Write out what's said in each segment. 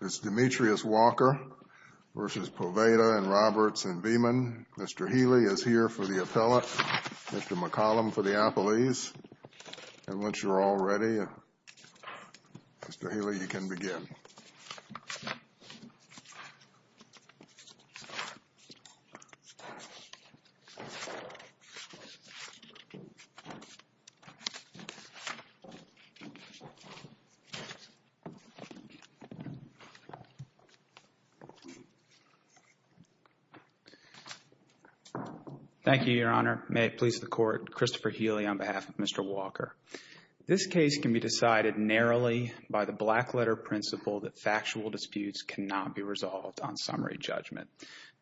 It's Demetrius Walker versus Poveda and Roberts and Veman. Mr. Healy is here for the appellate, Mr. McCollum for the appellees, and once you're all ready, Mr. Healy, you can begin. Thank you, Your Honor. May it please the Court, Christopher Healy on behalf of Mr. Walker. This case can be decided narrowly by the black-letter principle that factual disputes cannot be resolved on summary judgment.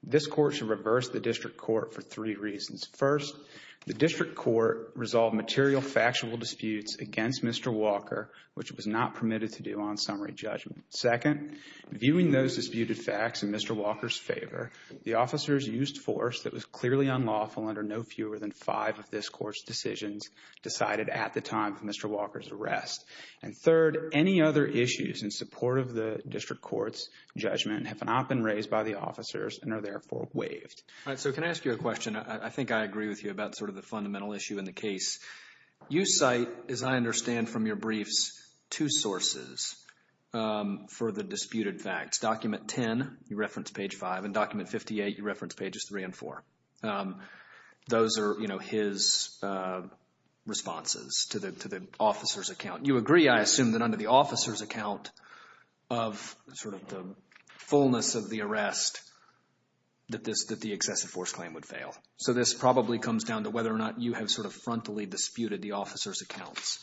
This Court should reverse the District Court for three reasons. First, the District Court resolved material factual disputes against Mr. Walker, which it was not permitted to do on summary judgment. Second, viewing those disputed facts in Mr. Walker's favor, the officers used force that was clearly unlawful under no fewer than five of this Court's decisions decided at the time of Mr. Walker's arrest. And third, any other issues in support of the District Court's judgment have not been raised by the officers and are therefore waived. All right, so can I ask you a question? I think I agree with you about sort of the fundamental issue in the case. You cite, as I understand from your briefs, two sources for the disputed facts. Document 10, you reference page 5, and document 58, you reference pages 3 and 4. Those are, you know, his responses to the officer's account. You agree, I assume, that under the officer's account of sort of the fullness of the arrest that this, that the excessive force claim would fail. So this probably comes down to whether or not you have sort of frontally disputed the officer's account.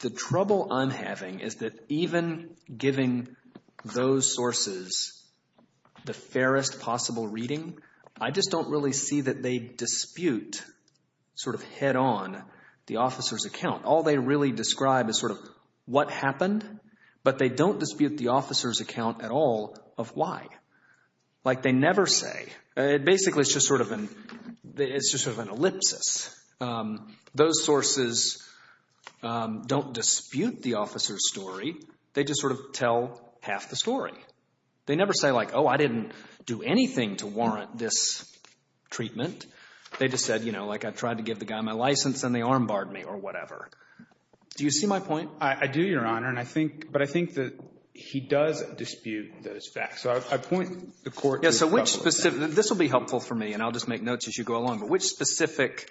The trouble I'm having is that even giving those sources the fairest possible reading, I just don't really see that they dispute sort of head-on the officer's account. All they really describe is sort of what happened, but they don't dispute the officer's account at all of why. Like, they never say. It basically is just sort of an, it's just sort of an ellipsis. Those sources don't dispute the officer's story. They just sort of tell half the story. They never say like, oh, I didn't do anything to warrant this treatment. They just said, you know, like, I tried to give the guy my license and they armbarred me or whatever. Do you see my point? I do, Your Honor, and I think, but I think that he does dispute those facts. So I point the court to the trouble. Yeah, so which specific, and this will be helpful for me, and I'll just make notes as you go along, but which specific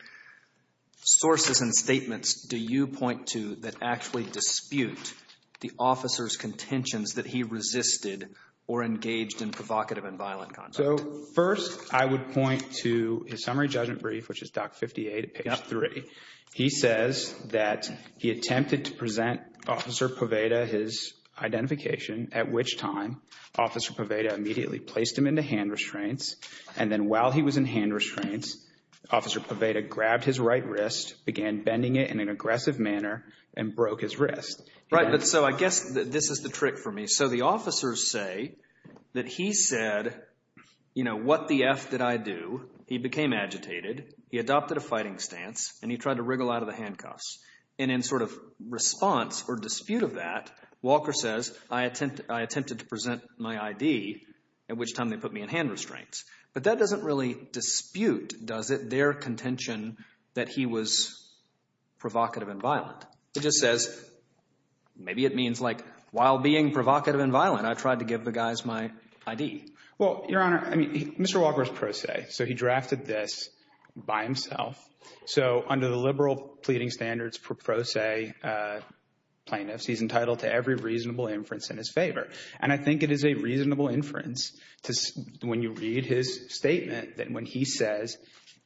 sources and statements do you point to that actually dispute the officer's contentions that he resisted or engaged in provocative and violent conduct? So first, I would point to his summary judgment brief, which is Doc 58 at page 3. He says that he attempted to present Officer Poveyta his identification, at which time Officer Poveyta immediately placed him into hand restraints, and then while he was in hand restraints, Officer Poveyta grabbed his right wrist, began bending it in an aggressive manner, and broke his wrist. Right, but so I guess that this is the trick for me. So the officers say that he said, you know, what the F did I do? He became agitated, he adopted a fighting stance, and he tried to wriggle out of the handcuffs. And in sort of response or dispute of that, Walker says, I attempted to present my ID, at which time they put me in hand restraints. But that doesn't really dispute, does it, their contention that he was provocative and violent. It just says, maybe it means like, while being provocative and violent, I tried to give the guys my ID. Well, Your Honor, I mean, Mr. Walker is pro se, so he drafted this by himself. So under the liberal pleading standards for pro se plaintiffs, he's entitled to every reasonable inference in his favor. And I think it is a reasonable inference to, when you read his statement, that when he says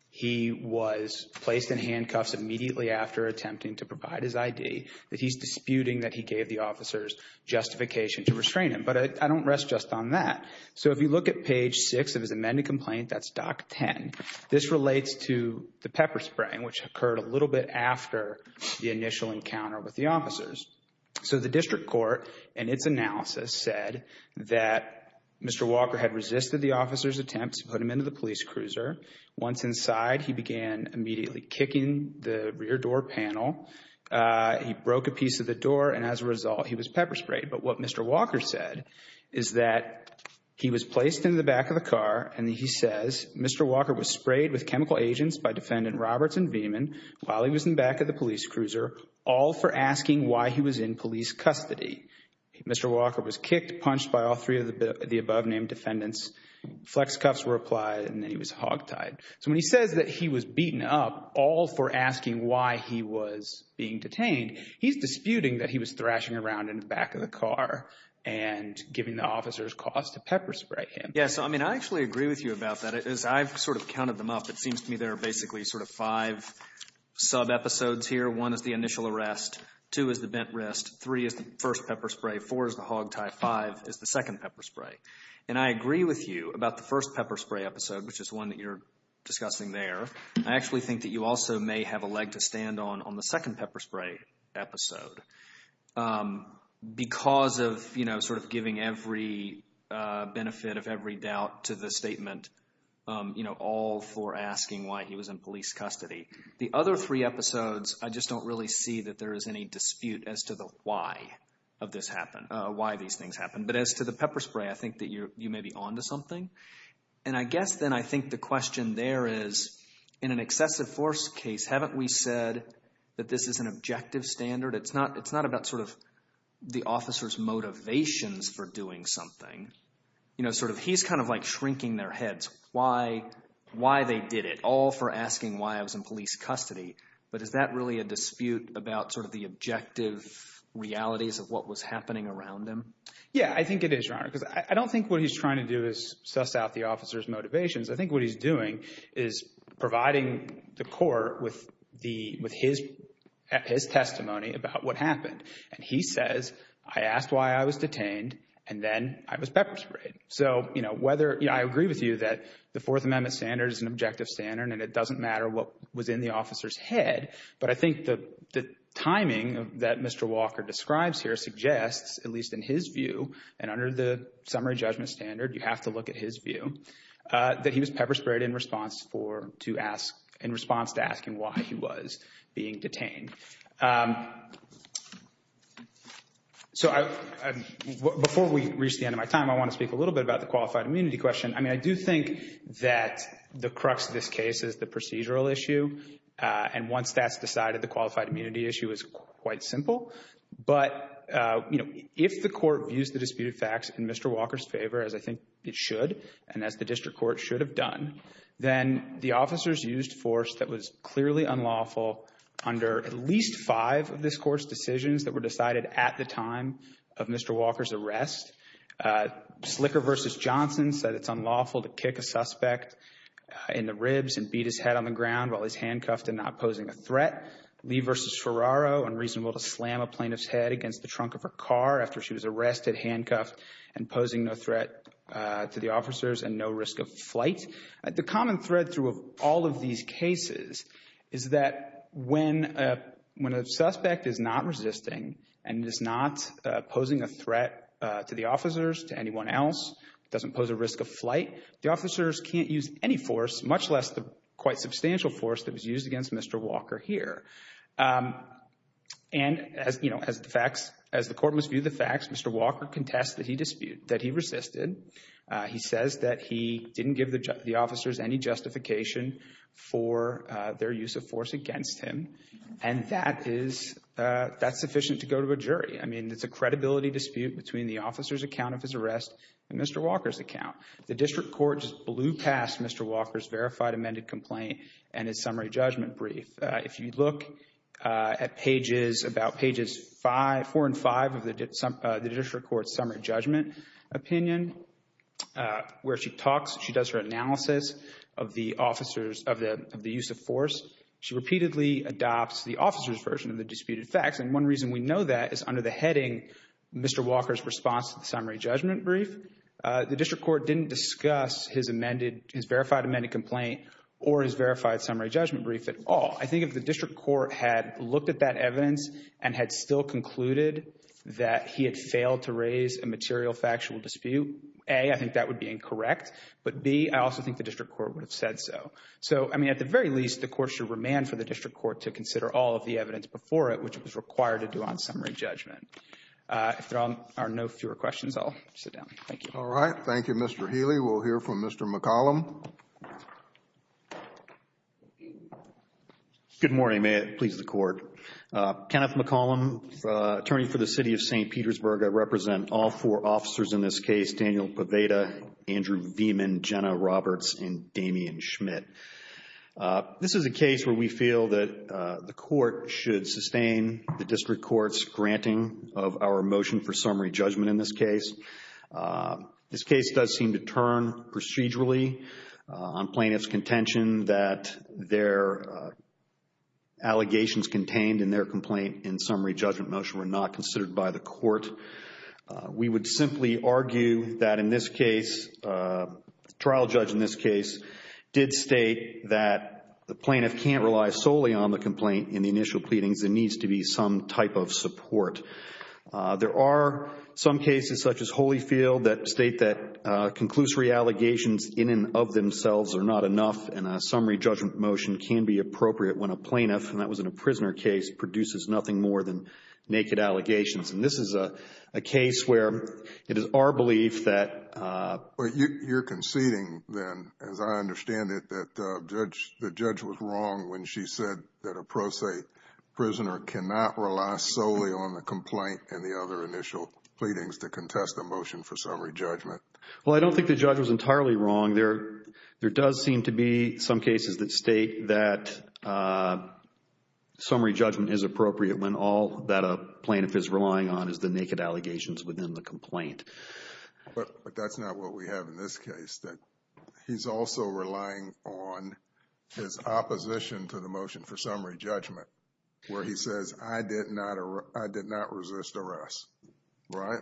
he was placed in handcuffs immediately after attempting to provide his ID, that he's disputing that he gave the officers justification to restrain him. But I don't rest just on that. So if you look at page six of his amended complaint, that's doc 10. This relates to the pepper spraying, which occurred a little bit after the initial encounter with the officers. So the district court, in its analysis, said that Mr. Walker had resisted the officer's attempts to put him into the police cruiser. Once inside, he began immediately kicking the rear door panel. He broke a piece of the door, and as a result, he was pepper sprayed. But what Mr. Walker said is that he was placed in the back of the car, and he says Mr. Walker was sprayed with chemical agents by defendant Roberts and Veman while he was in the back of the police cruiser, all for asking why he was in police custody. Mr. Walker was kicked, punched by all three of the above-named defendants. Flex cuffs were applied, and then he was hogtied. So when he says that he was beaten up, all for asking why he was being detained, he's disputing that he was thrashing around in the back of the car and giving the officers cause to pepper spray him. Yeah, so, I mean, I actually agree with you about that. As I've sort of counted them up, it seems to me there are basically sort of five sub-episodes here. One is the initial arrest, two is the bent wrist, three is the first pepper spray, four is the hogtie, five is the second pepper spray. And I agree with you about the first pepper spray episode, which is one that you're discussing there. I actually think that you also may have a leg to stand on the second pepper spray episode because of, you know, sort of giving every benefit of every doubt to the statement, you know, all for asking why he was in police custody. The other three episodes, I just don't really see that there is any dispute as to the why of this happened, why these things happened. But as to the pepper spray, I think that you may be onto something. And I guess then I think the question there is, in an excessive force case, haven't we said that this is an objective standard? It's not about sort of the officer's motivations for doing something. You know, sort of he's kind of like shrinking their heads why they did it, all for asking why I was in police custody. But is that really a dispute about sort of the objective realities of what was happening around him? Yeah, I think it is, Your Honor, because I don't think what he's trying to do is suss out the officer's motivations. I think what he's doing is providing the court with his testimony about what happened. And he says, I asked why I was detained, and then I was pepper sprayed. So, you know, I agree with you that the Fourth Amendment standard is an objective standard, and it doesn't matter what was in the officer's head. But I think the timing that Mr. Walker describes here suggests, at least in his view, and under the summary judgment standard, you have to look at his view, that he was pepper sprayed in response to asking why he was being detained. So before we reach the end of my time, I want to speak a little bit about the qualified immunity question. I mean, I do think that the crux of this case is the procedural issue. And once that's decided, the qualified immunity issue is quite simple. But, you know, if the court views the and as the district court should have done, then the officers used force that was clearly unlawful under at least five of this court's decisions that were decided at the time of Mr. Walker's arrest. Slicker v. Johnson said it's unlawful to kick a suspect in the ribs and beat his head on the ground while he's handcuffed and not posing a threat. Lee v. Ferraro, unreasonable to slam a plaintiff's head against the trunk of her car after she was arrested, handcuffed and posing no threat to the officers and no risk of flight. The common thread through of all of these cases is that when a suspect is not resisting and is not posing a threat to the officers, to anyone else, doesn't pose a risk of flight, the officers can't use any force, much less the quite substantial force that was used against Mr. Walker here. And, you know, as the facts, as the court must view the facts, Mr. Walker contests that he disputed, that he resisted. He says that he didn't give the officers any justification for their use of force against him. And that is, that's sufficient to go to a jury. I mean, it's a credibility dispute between the officer's account of his arrest and Mr. Walker's account. The district court just blew past Mr. Walker's verified amended complaint and his summary judgment brief. If you look at pages, about pages four and five of the district court's summary judgment opinion, where she talks, she does her analysis of the officers, of the use of force, she repeatedly adopts the officer's version of the disputed facts. And one reason we know that is under the heading, Mr. Walker's response to the summary judgment brief. The district court didn't discuss his amended, his verified amended complaint or his verified summary judgment brief at all. I think if the district court had looked at that evidence and had still concluded that he had failed to raise a material factual dispute, A, I think that would be incorrect. But, B, I also think the district court would have said so. So, I mean, at the very least, the court should remand for the district court to consider all of the evidence before it which was required to do on summary judgment. If there are no fewer questions, I'll sit down. Thank you. All right. Thank you, Mr. Healy. We'll hear from Mr. McCollum. Good morning. May it please the Court. Kenneth McCollum, attorney for the City of St. Petersburg. I represent all four officers in this case, Daniel Pavetta, Andrew Veman, Jenna Roberts, and Damian Schmidt. This is a case where we feel that the court should sustain the district court's granting of our motion for summary judgment in this case. This case does seem to turn procedurally on plaintiff's contention that their allegations contained in their complaint in summary judgment motion were not considered by the court. We would simply argue that in this case, the trial judge in this case did state that the plaintiff can't rely solely on the complaint in the initial pleadings and needs to be some type of support. There are some cases such as Holyfield that state that conclusory allegations in and of themselves are not enough and a summary judgment motion can be appropriate when a plaintiff, and that was in a prisoner case, produces nothing more than naked allegations. And this is a case where it is our belief that But you're conceding then, as I understand it, that the judge was wrong when she said that a pro se prisoner cannot rely solely on the complaint and the other initial pleadings to contest the motion for summary judgment. Well, I don't think the judge was entirely wrong. There does seem to be some cases that state that summary judgment is appropriate when all that a plaintiff is relying on is the naked allegations within the complaint. But that's not what we have in this case, that he's also relying on his opposition to the motion for summary judgment where he says, I did not resist arrest. Right?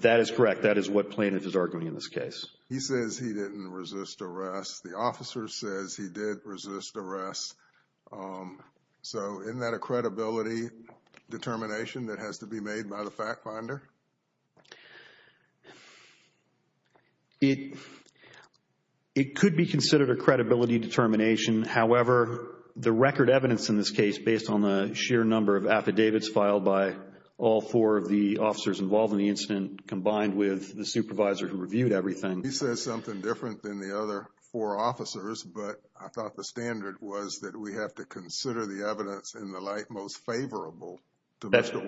That is correct. That is what plaintiff is arguing in this case. He says he didn't resist arrest. The officer says he did resist arrest. So isn't that a credibility determination that has to be made by the fact finder? It could be considered a credibility determination. However, the record evidence in this case based on the sheer number of affidavits filed by all four of the officers involved in the incident combined with the supervisor who reviewed everything. He says something different than the other four officers, but I thought the standard was that we have to consider the evidence in the light most favorable to him. It seems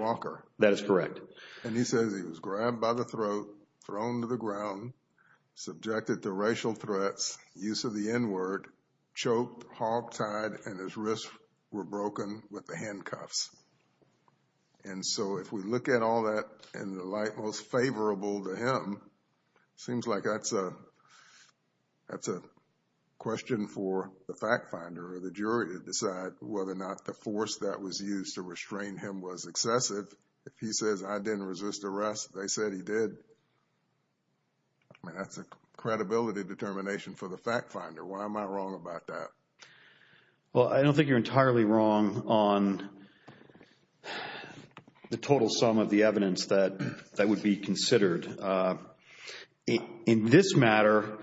like that's a question for the fact finder or the jury to decide whether or not the force that was used to restrain him was excessive. If he says I didn't resist arrest, they said he did. I mean, that's a credibility determination for the fact finder. Why am I wrong about that? Well, I don't think you're entirely wrong on the total sum of the evidence that would be considered. In this matter,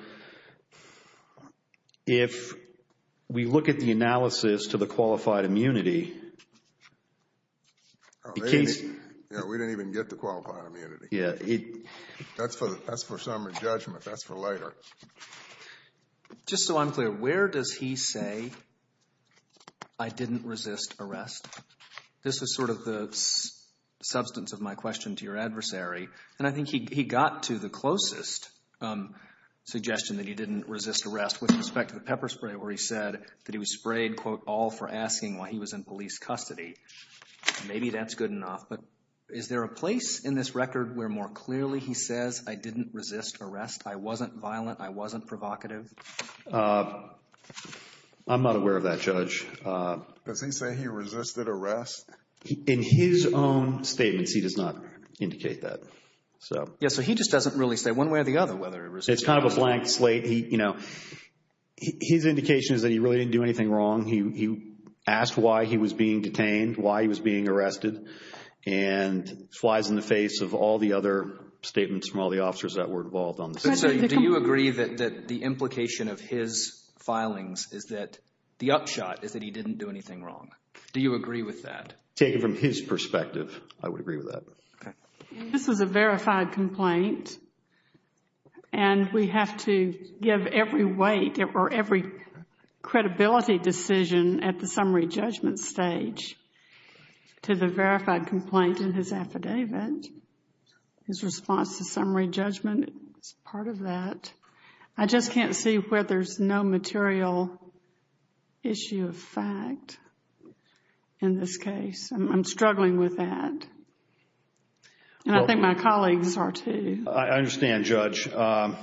if we look at the analysis to the qualified immunity, we didn't even get the qualified immunity. Yeah. That's for summary judgment. That's for later. Just so I'm clear, where does he say I didn't resist arrest? This is sort of the adversary, and I think he got to the closest suggestion that he didn't resist arrest with respect to the pepper spray where he said that he was sprayed, quote, all for asking why he was in police custody. Maybe that's good enough, but is there a place in this record where more clearly he says I didn't resist arrest, I wasn't violent, I wasn't provocative? I'm not aware of that, Judge. Does he say he resisted arrest? In his own statements, he does not indicate that. Yeah, so he just doesn't really say one way or the other whether he resisted arrest. It's kind of a blank slate. His indication is that he really didn't do anything wrong. He asked why he was being detained, why he was being arrested, and flies in the face of all the other statements from all the officers that were involved on this. Do you agree that the implication of his filings is that the upshot is that he didn't do anything wrong? Do you agree with that? Taken from his perspective, I would agree with that. This is a verified complaint, and we have to give every weight or every credibility decision at the summary judgment stage to the verified complaint in his affidavit. His response to summary judgment is part of that. I just can't see where there's no material issue of fact in this case. I'm struggling with that, and I think my colleagues are too. I understand, Judge. I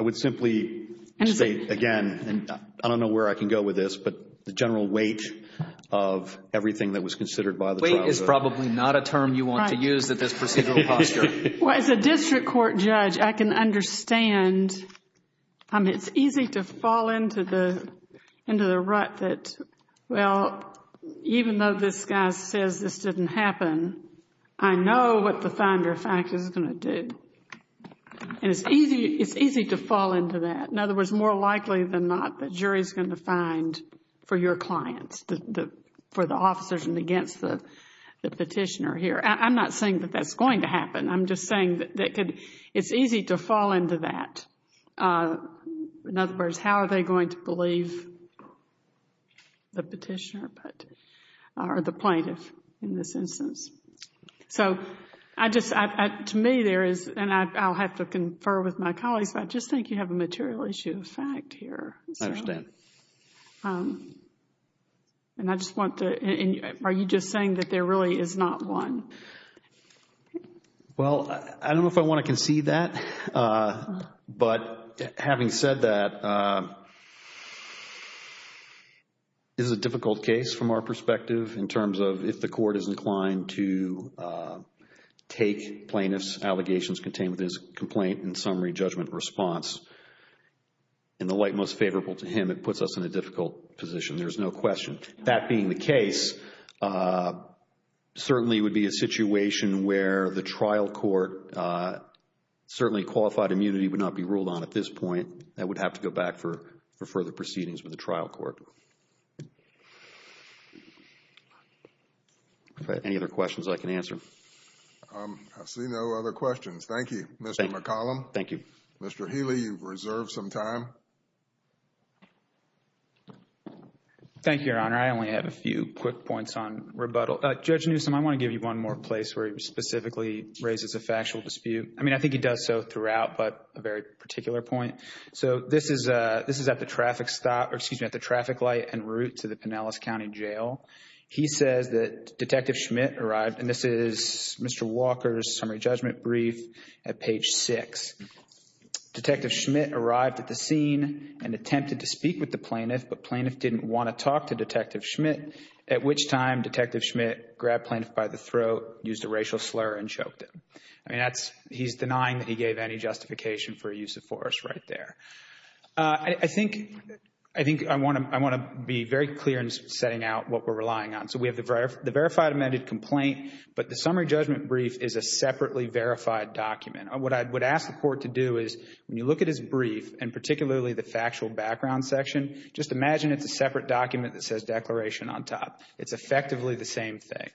would simply say again, and I don't know where I can go with this, but the general weight of everything that was considered by the trial. Is probably not a term you want to use at this procedural posture. Well, as a district court judge, I can understand. I mean, it's easy to fall into the rut that, well, even though this guy says this didn't happen, I know what the finder of fact is going to do. And it's easy to fall into that. In other words, more likely than not, the jury is going to find for your clients, for the officers and against the petitioner here. I'm not saying that that's going to happen. I'm just saying that it's easy to fall into that. In other words, how are they going to believe the petitioner or the plaintiff in this instance? So to me there is, and I'll have to confer with my colleagues, but I just think you have a material issue of fact here. I understand. And I just want to, are you just saying that there really is not one? Well, I don't know if I want to concede that, but having said that, this is a difficult case from our perspective in terms of if the court is inclined to take plaintiff's allegations contained with his complaint and summary judgment response. In the light most favorable to him, it puts us in a difficult position. There's no question. That being the case, certainly would be a situation where the trial court, certainly qualified immunity would not be ruled on at this point. That would have to go back for further proceedings with the trial court. Any other questions I can answer? I see no other questions. Thank you, Mr. McCollum. Thank you. Mr. Healy, you've reserved some time. Thank you, Your Honor. I only have a few quick points on rebuttal. Judge Newsom, I want to give you one more place where he specifically raises a factual dispute. I mean, I think he does so throughout, but a very particular point. So this is at the traffic stop, or excuse me, at the traffic light en route to the Pinellas County Jail. He says that Detective Schmidt arrived, and this is Mr. Walker's summary brief at page six. Detective Schmidt arrived at the scene and attempted to speak with the plaintiff, but plaintiff didn't want to talk to Detective Schmidt, at which time Detective Schmidt grabbed plaintiff by the throat, used a racial slur, and choked him. I mean, that's, he's denying that he gave any justification for use of force right there. I think I want to be very clear in setting out what we're relying on. So we have the verified document. What I would ask the court to do is, when you look at his brief, and particularly the factual background section, just imagine it's a separate document that says declaration on top. It's effectively the same thing.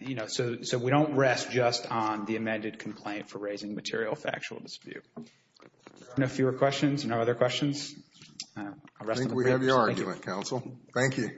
You know, so we don't rest just on the amended complaint for raising material factual dispute. No fewer questions? No other questions? I think we have your argument, counsel. Thank you. Thank you.